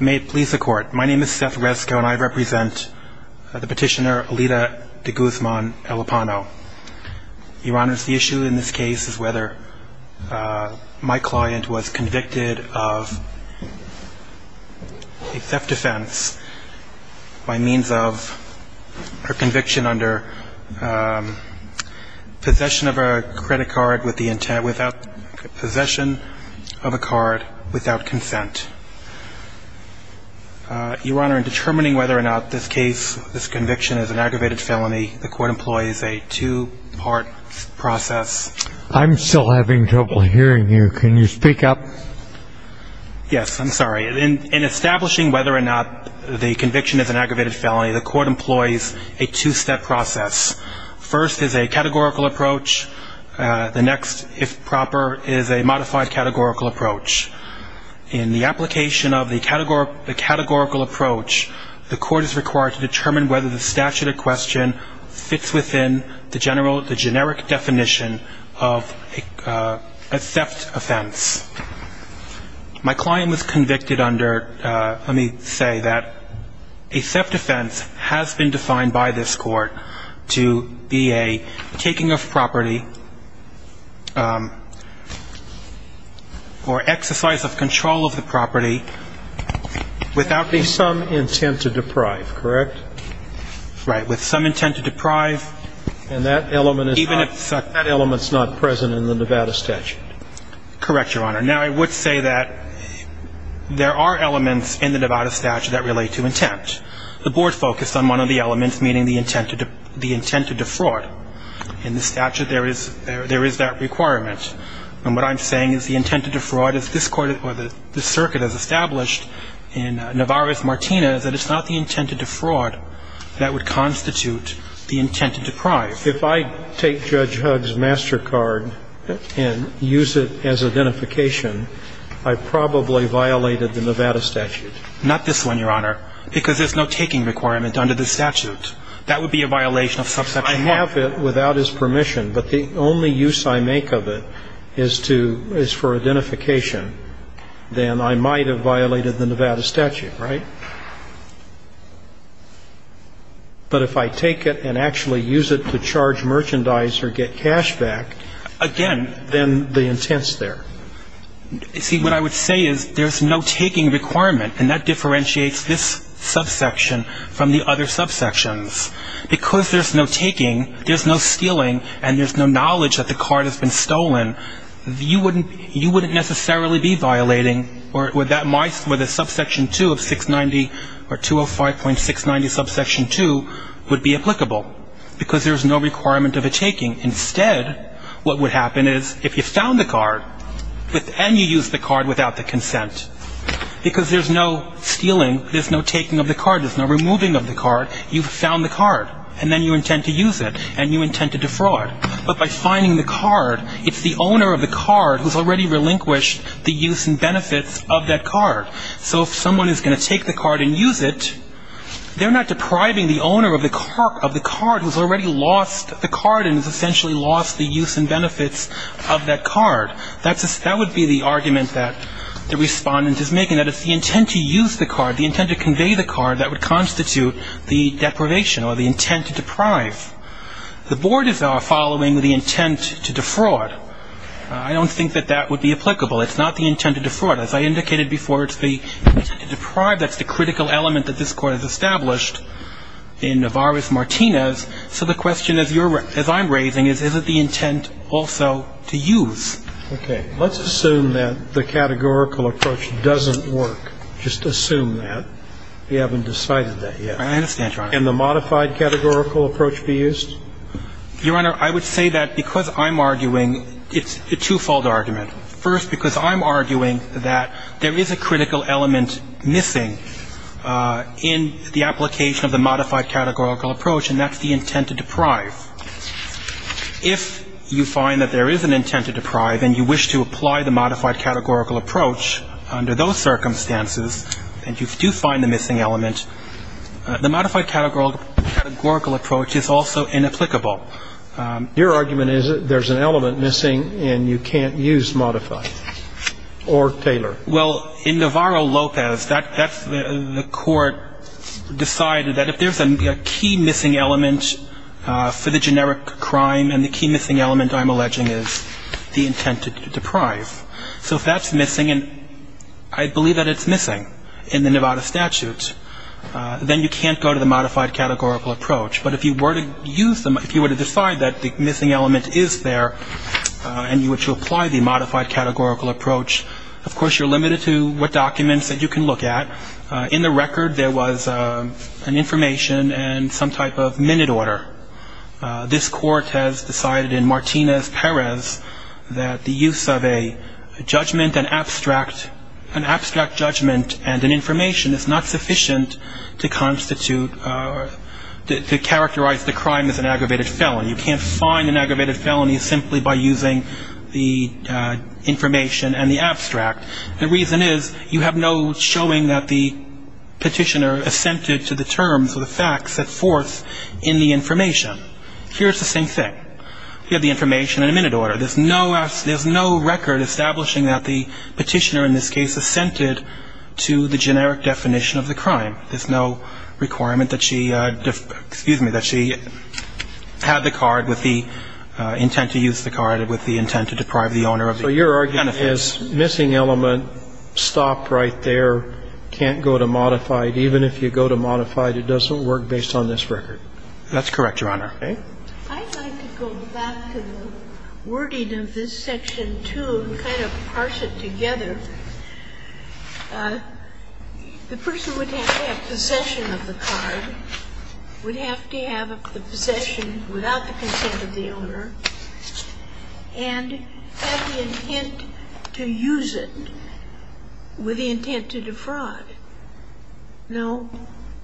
May it please the court. My name is Seth Resko and I represent the petitioner Alida de Guzman Elpano. Your Honor, the issue in this case is whether my client was convicted of a theft defense by means of her conviction under possession of a credit card without consent. Your Honor, in determining whether or not this case, this conviction is an aggravated felony, the court employs a two-part process. I'm still having trouble hearing you. Can you speak up? Yes, I'm sorry. In establishing whether or not the conviction is an aggravated felony, the court employs a two-step process. First is a categorical approach. The next, if proper, is a modified categorical approach. In the application of the categorical approach, the court is required to determine whether the statute of question fits within the generic definition of a theft offense. My client was convicted under, let me say that a theft offense has been defined by this court to be a taking of property or exercise of control of the property without consent. With some intent to deprive, correct? Right, with some intent to deprive. And that element is not present in the Nevada statute. Correct, Your Honor. Now, I would say that there are elements in the Nevada statute that relate to intent. The board focused on one of the elements, meaning the intent to defraud. In the statute, there is that requirement. And what I'm saying is the intent to defraud is this court, or this circuit as established in Navarrez-Martinez, that it's not the intent to defraud that would constitute the intent to deprive. If I take Judge Hugg's MasterCard and use it as identification, I probably violated the Nevada statute. Not this one, Your Honor, because there's no taking requirement under the statute. That would be a violation of subsection 1. If I have it without his permission, but the only use I make of it is for identification, then I might have violated the Nevada statute, right? But if I take it and actually use it to charge merchandise or get cash back, again, then the intent's there. See, what I would say is there's no taking requirement, and that differentiates this subsection from the other subsections. Because there's no taking, there's no stealing, and there's no knowledge that the card has been stolen, you wouldn't necessarily be violating where the subsection 2 of 690 or 205.690 subsection 2 would be applicable because there's no requirement of a taking. Instead, what would happen is if you found the card, and you used the card without the consent, because there's no stealing, there's no taking of the card, there's no removing of the card, you've found the card, and then you intend to use it, and you intend to defraud. But by finding the card, it's the owner of the card who's already relinquished the use and benefits of that card. So if someone is going to take the card and use it, they're not depriving the owner of the card who's already lost the card and has essentially lost the use and benefits of that card. That would be the argument that the respondent is making, that it's the intent to use the card, the intent to convey the card that would constitute the deprivation or the intent to deprive. The board is following the intent to defraud. I don't think that that would be applicable. It's not the intent to defraud. As I indicated before, it's the intent to deprive. Okay. Let's assume that the categorical approach doesn't work. Just assume that. We haven't decided that yet. I understand, Your Honor. Can the modified categorical approach be used? Your Honor, I would say that because I'm arguing it's a twofold argument. First, because I'm arguing that there is a critical element missing in the application of the modified categorical approach, and that's the intent to deprive. If you find that there is an intent to deprive and you wish to apply the modified categorical approach under those circumstances and you do find the missing element, the modified categorical approach is also inapplicable. Your argument is that there's an element missing and you can't use modify or tailor. Well, in Navarro-Lopez, the court decided that if there's a key missing element for the generic crime and the key missing element, I'm alleging, is the intent to deprive. So if that's missing, and I believe that it's missing in the Nevada statute, then you can't go to the modified categorical approach. But if you were to use them, if you were to decide that the missing element is there and you wish to apply the modified categorical approach, of course, you're limited to what documents that you can look at. In the record, there was an information and some type of minute order. This court has decided in Martinez-Perez that the use of a judgment, an abstract judgment, and an information is not sufficient to constitute or to characterize the crime as an aggravated felony. You can't find an aggravated felony simply by using the information and the abstract. The reason is you have no showing that the Petitioner assented to the terms of the facts that force in the information. Here's the same thing. You have the information and a minute order. There's no record establishing that the Petitioner in this case assented to the generic definition of the crime. There's no requirement that she had the card with the intent to use the card with the intent to deprive the owner of the benefits. And so you can't go to modified, even if you go to modified, it doesn't work based on this record. That's correct, Your Honor. Okay. I'd like to go back to the wording of this Section 2 and kind of parse it together. The person would have to have possession of the card, would have to have the possession without the consent of the owner, and have the intent to use it with the intent to defraud. Now,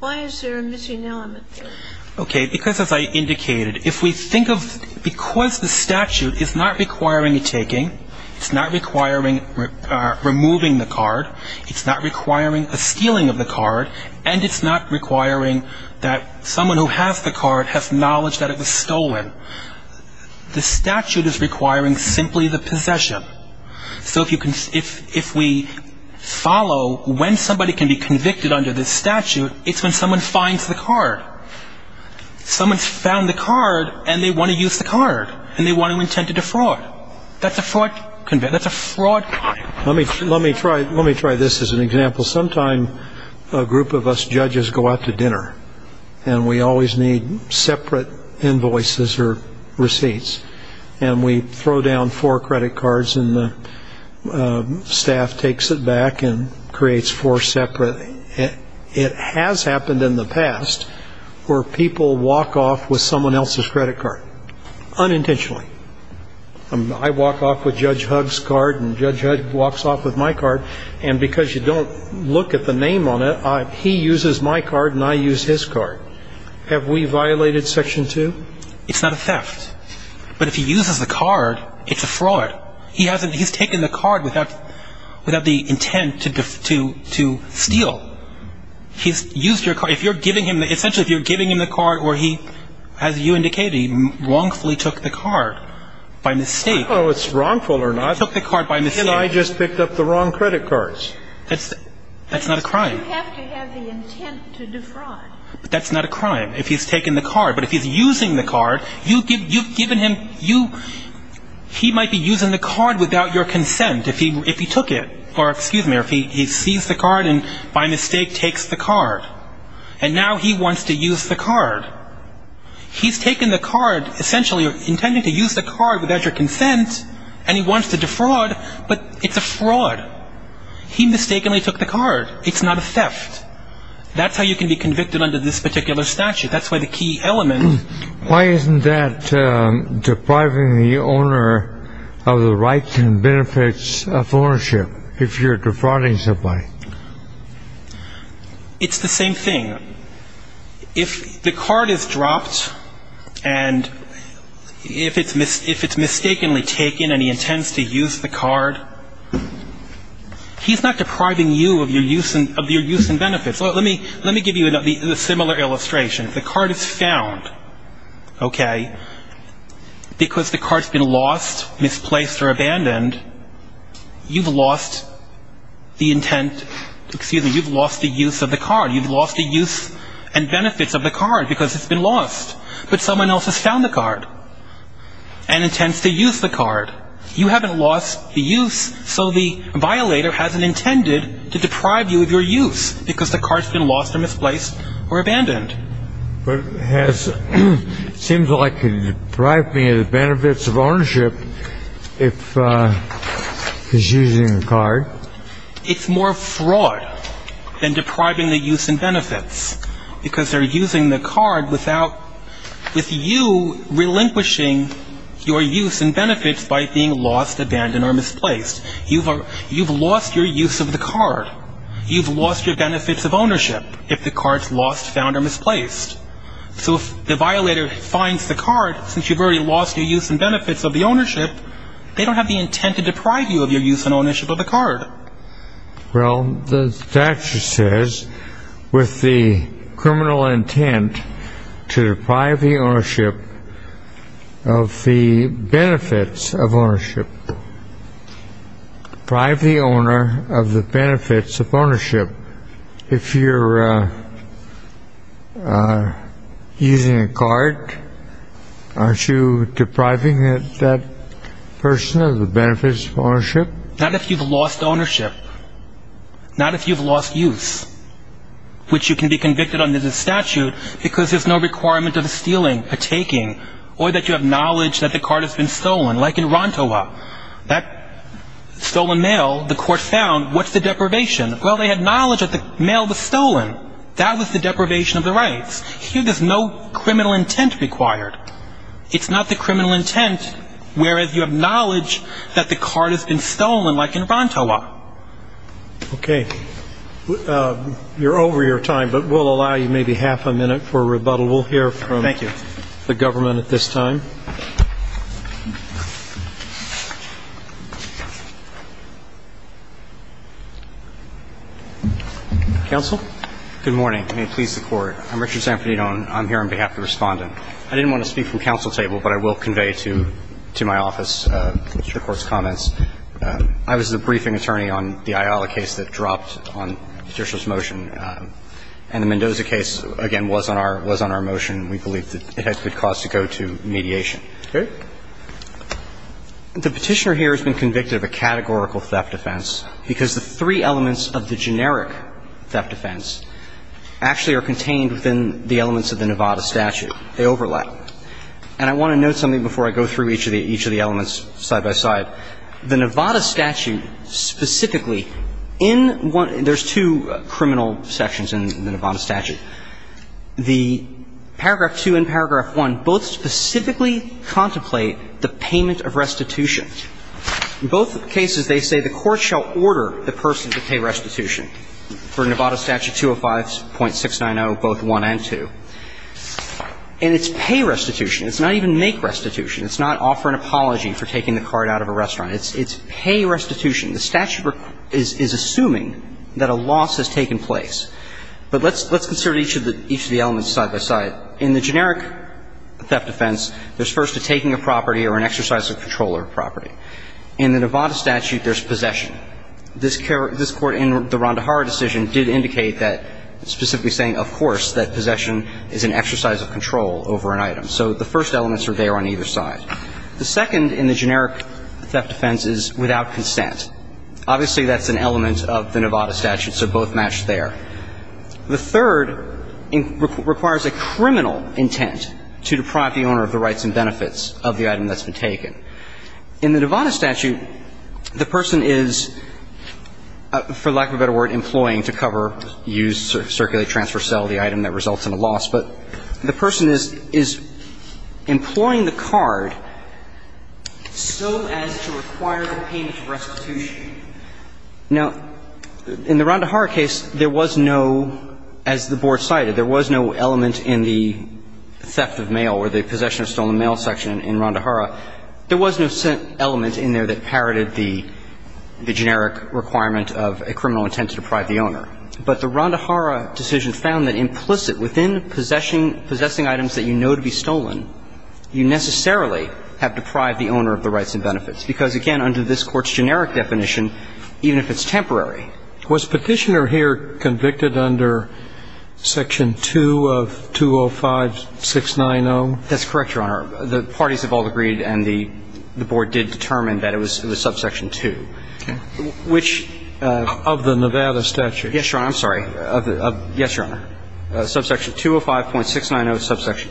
why is there a missing element there? Okay. Because, as I indicated, if we think of because the statute is not requiring a taking, it's not requiring removing the card, it's not requiring a stealing of the card, and it's not requiring that someone who has the card has knowledge that it was stolen. The statute is requiring simply the possession. So if we follow when somebody can be convicted under this statute, it's when someone finds the card. Someone's found the card, and they want to use the card, and they want to intend to defraud. That's a fraud crime. Let me try this as an example. Sometimes a group of us judges go out to dinner, and we always need separate invoices or receipts, and we throw down four credit cards, and the staff takes it back and creates four separate. It has happened in the past where people walk off with someone else's credit card, unintentionally. I walk off with Judge Hugg's card, and Judge Hugg walks off with my card, and because you don't look at the name on it, he uses my card, and I use his card. Have we violated Section 2? It's not a theft. But if he uses the card, it's a fraud. He's taken the card without the intent to steal. He's used your card. If you're giving him the card where he, as you indicated, wrongfully took the card by mistake. Oh, it's wrongful or not. He took the card by mistake. And I just picked up the wrong credit cards. That's not a crime. You have to have the intent to defraud. But that's not a crime if he's taken the card. But if he's using the card, you've given him, you, he might be using the card without your consent if he took it. Or, excuse me, or if he sees the card and by mistake takes the card. And now he wants to use the card. He's taken the card, essentially intending to use the card without your consent, and he wants to defraud, but it's a fraud. He mistakenly took the card. It's not a theft. That's how you can be convicted under this particular statute. That's why the key element. Why isn't that depriving the owner of the rights and benefits of ownership if you're defrauding somebody? It's the same thing. If the card is dropped and if it's mistakenly taken and he intends to use the card, he's not depriving you of your use and benefits. Let me give you a similar illustration. If the card is found, okay, because the card's been lost, misplaced, or abandoned, you've lost the intent, excuse me, you've lost the use of the card. You've lost the use and benefits of the card because it's been lost. But someone else has found the card and intends to use the card. You haven't lost the use, so the violator hasn't intended to deprive you of your use because the card's been lost or misplaced or abandoned. But it seems like you're depriving me of the benefits of ownership if he's using the card. It's more fraud than depriving the use and benefits because they're using the card without with you relinquishing your use and benefits by being lost, abandoned, or misplaced. You've lost your use of the card. You've lost your benefits of ownership if the card's lost, found, or misplaced. So if the violator finds the card, since you've already lost your use and benefits of the ownership, they don't have the intent to deprive you of your use and ownership of the card. Well, the statute says with the criminal intent to deprive the ownership of the benefits of ownership. Deprive the owner of the benefits of ownership. If you're using a card, aren't you depriving that person of the benefits of ownership? Not if you've lost ownership, not if you've lost use, which you can be convicted under the statute because there's no requirement of stealing, partaking, or that you have knowledge that the card has been stolen. Like in Rontoa, that stolen mail, the court found, what's the deprivation? Well, they had knowledge that the mail was stolen. That was the deprivation of the rights. Here there's no criminal intent required. It's not the criminal intent, whereas you have knowledge that the card has been stolen, like in Rontoa. Okay. You're over your time, but we'll allow you maybe half a minute for a rebuttal. We'll hear from the government at this time. Counsel? Good morning. May it please the Court. I'm Richard Zampanino, and I'm here on behalf of the Respondent. I didn't want to speak from counsel table, but I will convey to my office the Court's comments. I was the briefing attorney on the Ayala case that dropped on judicial's motion, and the Mendoza case, again, was on our motion. We believe that it has good cause to go to mediation. Okay. The Petitioner here has been convicted of a categorical theft offense, because the three elements of the generic theft offense actually are contained within the elements of the Nevada statute. They overlap. And I want to note something before I go through each of the elements side by side. The Nevada statute specifically, in one – there's two criminal sections in the Nevada statute. The paragraph 2 and paragraph 1 both specifically contemplate the payment of restitution. In both cases, they say the court shall order the person to pay restitution. For Nevada statute 205.690, both 1 and 2. And it's pay restitution. It's not even make restitution. It's not offer an apology for taking the card out of a restaurant. It's pay restitution. The statute is assuming that a loss has taken place. But let's consider each of the elements side by side. In the generic theft offense, there's first a taking of property or an exercise of control of property. In the Nevada statute, there's possession. This Court in the Rondahara decision did indicate that, specifically saying, of course, that possession is an exercise of control over an item. So the first elements are there on either side. The second in the generic theft offense is without consent. Obviously, that's an element of the Nevada statute, so both match there. The third requires a criminal intent to deprive the owner of the rights and benefits of the item that's been taken. In the Nevada statute, the person is, for lack of a better word, employing to cover, use, circulate, transfer, sell the item that results in a loss. But the person is employing the card so as to require the payment of restitution. Now, in the Rondahara case, there was no, as the Board cited, there was no element in the theft of mail or the possession of stolen mail section in Rondahara. There was no element in there that parroted the generic requirement of a criminal intent to deprive the owner. But the Rondahara decision found that implicit within possessing items that you know to be stolen, you necessarily have deprived the owner of the rights and benefits. Because, again, under this Court's generic definition, even if it's temporary. Was Petitioner here convicted under section 2 of 205-690? That's correct, Your Honor. The parties have all agreed and the Board did determine that it was subsection Okay. Which of the Nevada statute? Yes, Your Honor, I'm sorry. Yes, Your Honor. Subsection 205.690, subsection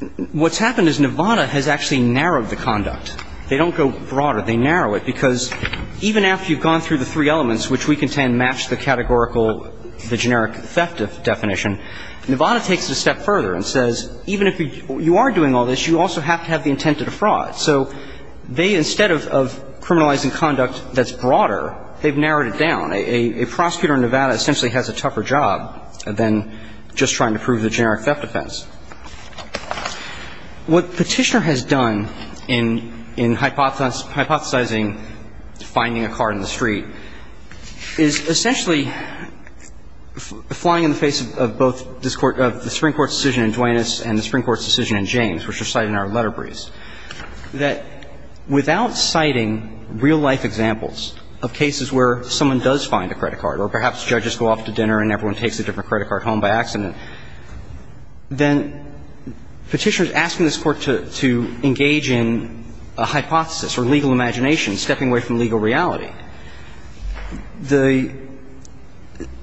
2. What's happened is Nevada has actually narrowed the conduct. They don't go broader. They narrow it. Because even after you've gone through the three elements, which we contend match the categorical, the generic theft definition, Nevada takes it a step further and says even if you are doing all this, you also have to have the intent to defraud. So they, instead of criminalizing conduct that's broader, they've narrowed it down. A prosecutor in Nevada essentially has a tougher job than just trying to prove the generic theft offense. What Petitioner has done in hypothesizing finding a car in the street is essentially flying in the face of both the Supreme Court's decision in Duanis and the Supreme Court's decision in James, which are cited in our letter briefs. And Petitioner is saying that without citing real-life examples of cases where someone does find a credit card or perhaps judges go off to dinner and everyone takes a different credit card home by accident, then Petitioner is asking this Court to engage in a hypothesis or legal imagination, stepping away from legal reality. The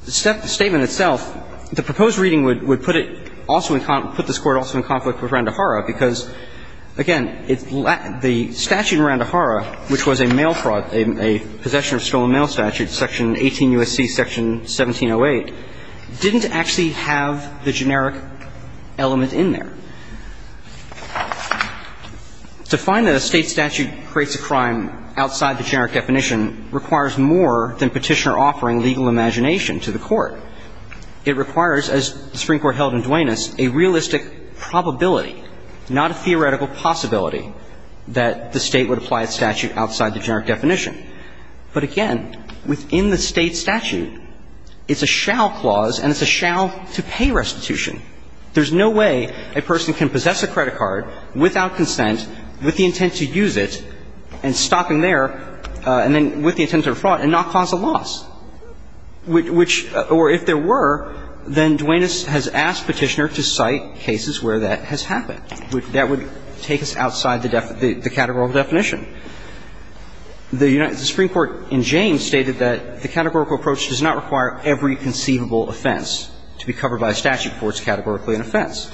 statement itself, the proposed reading would put it also in conflict, put this case in conflict. And again, the statute in Randahara, which was a mail fraud, a possession of stolen mail statute, Section 18 U.S.C. Section 1708, didn't actually have the generic element in there. To find that a State statute creates a crime outside the generic definition requires more than Petitioner offering legal imagination to the Court. It requires, as the Supreme Court held in Duanis, a realistic probability, not a theoretical possibility, that the State would apply a statute outside the generic definition. But again, within the State statute, it's a shall clause and it's a shall to pay restitution. There's no way a person can possess a credit card without consent, with the intent to use it, and stop him there, and then with the intent to defraud and not cause a loss, which or if there were, then Duanis has asked Petitioner to cite cases where that has happened. That would take us outside the categorical definition. The Supreme Court in James stated that the categorical approach does not require every conceivable offense to be covered by a statute before it's categorically an offense.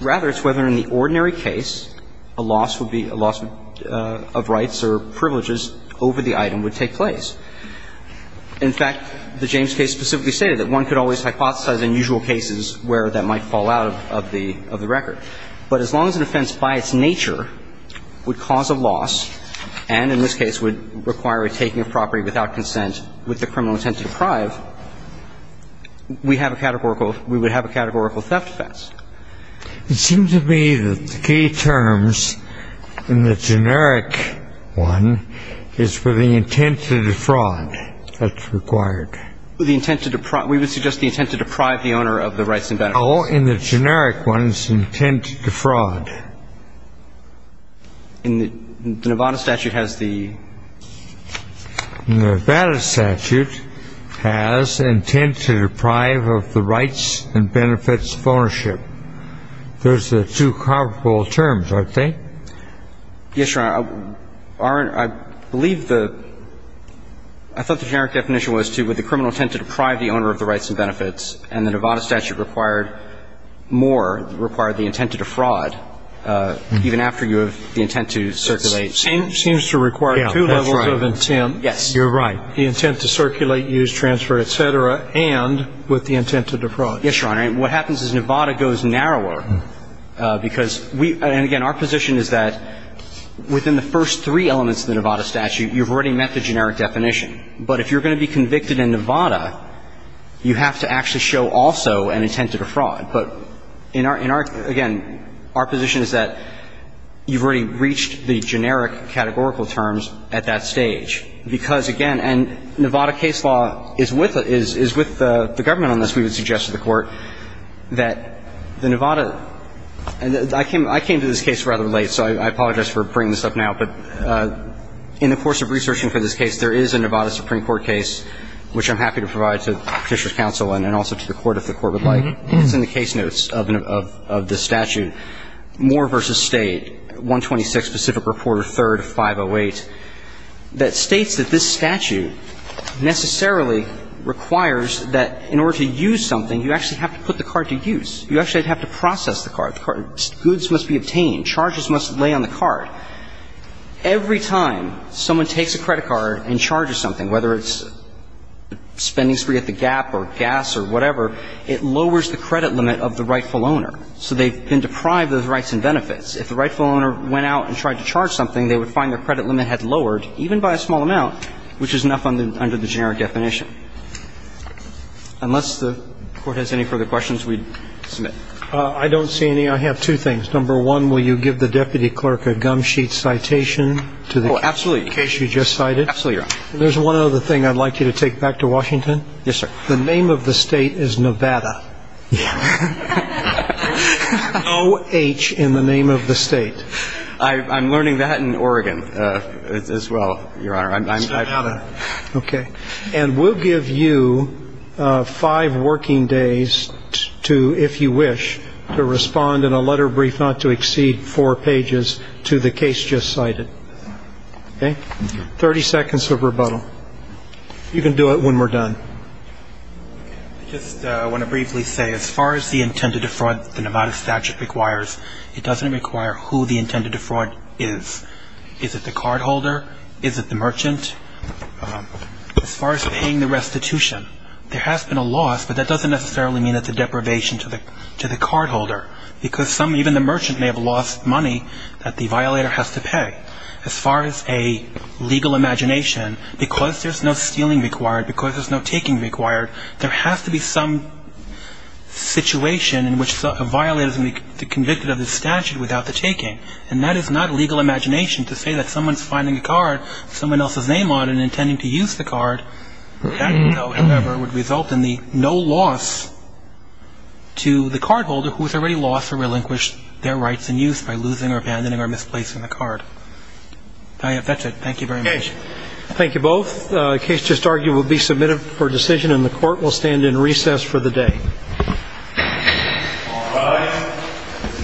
Rather, it's whether in the ordinary case a loss would be a loss of rights or privileges over the item would take place. In fact, the James case specifically stated that one could always hypothesize in usual cases where that might fall out of the record. But as long as an offense by its nature would cause a loss and in this case would require a taking of property without consent with the criminal intent to deprive, we have a categorical – we would have a categorical theft offense. It seems to me that the key terms in the generic one is for the intent to defraud that's required. The intent to – we would suggest the intent to deprive the owner of the rights and benefits. Oh, in the generic one it's the intent to defraud. The Nevada statute has the – The Nevada statute has intent to deprive of the rights and benefits of ownership. Those are the two comparable terms, aren't they? Yes, Your Honor. I believe the – I thought the generic definition was to with the criminal intent to deprive the owner of the rights and benefits and the Nevada statute required more, required the intent to defraud even after you have the intent to circulate. Seems to require two levels of intent. Yes. You're right. The intent to circulate, use, transfer, et cetera, and with the intent to defraud. Yes, Your Honor. And what happens is Nevada goes narrower because we – and again, our position is that within the first three elements of the Nevada statute, you've already met the generic definition. But if you're going to be convicted in Nevada, you have to actually show also an intent to defraud. But in our – again, our position is that you've already reached the generic categorical terms at that stage because, again – and Nevada case law is with the government on this. We would suggest to the Court that the Nevada – and I came to this case rather late, so I apologize for bringing this up now. But in the course of researching for this case, there is a Nevada Supreme Court case, which I'm happy to provide to the Petitioner's counsel and also to the Court if the Court would like. It's in the case notes of the statute. Moore v. State, 126, Pacific Reporter, 3rd, 508, that states that this statute necessarily requires that in order to use something, you actually have to put the card to use. You actually have to process the card. Goods must be obtained. Charges must lay on the card. Every time someone takes a credit card and charges something, whether it's spending spree at the Gap or gas or whatever, it lowers the credit limit of the rightful owner. So they've been deprived of those rights and benefits. If the rightful owner went out and tried to charge something, they would find their credit limit had lowered, even by a small amount, which is enough under the generic definition. Unless the Court has any further questions, we'd submit. I don't see any. I have two things. Number one, will you give the Deputy Clerk a gum sheet citation to the case you just cited? Oh, absolutely. Absolutely, Your Honor. There's one other thing I'd like you to take back to Washington. Yes, sir. The name of the State is Nevada. Yeah. O-H in the name of the State. I'm learning that in Oregon as well, Your Honor. It's Nevada. Okay. And we'll give you five working days to, if you wish, to respond in a letter of brief, not to exceed four pages, to the case just cited. Okay? Thirty seconds of rebuttal. You can do it when we're done. I just want to briefly say, as far as the intended defraud the Nevada statute requires, it doesn't require who the intended defraud is. Is it the cardholder? Is it the merchant? As far as paying the restitution, there has been a loss, but that doesn't necessarily mean it's a deprivation to the cardholder, because some, even the merchant, may have lost money that the violator has to pay. As far as a legal imagination, because there's no stealing required, because there's no taking required, there has to be some situation in which a violator is going to be convicted of the statute without the taking. And that is not legal imagination to say that someone's finding a card someone else's name on and intending to use the card. That, however, would result in the no loss to the cardholder, who has already lost or relinquished their rights in use by losing or abandoning or misplacing the card. That's it. Thank you very much. Okay. Thank you both. The case just argued will be submitted for decision, and the Court will stand in recess for the day. All rise.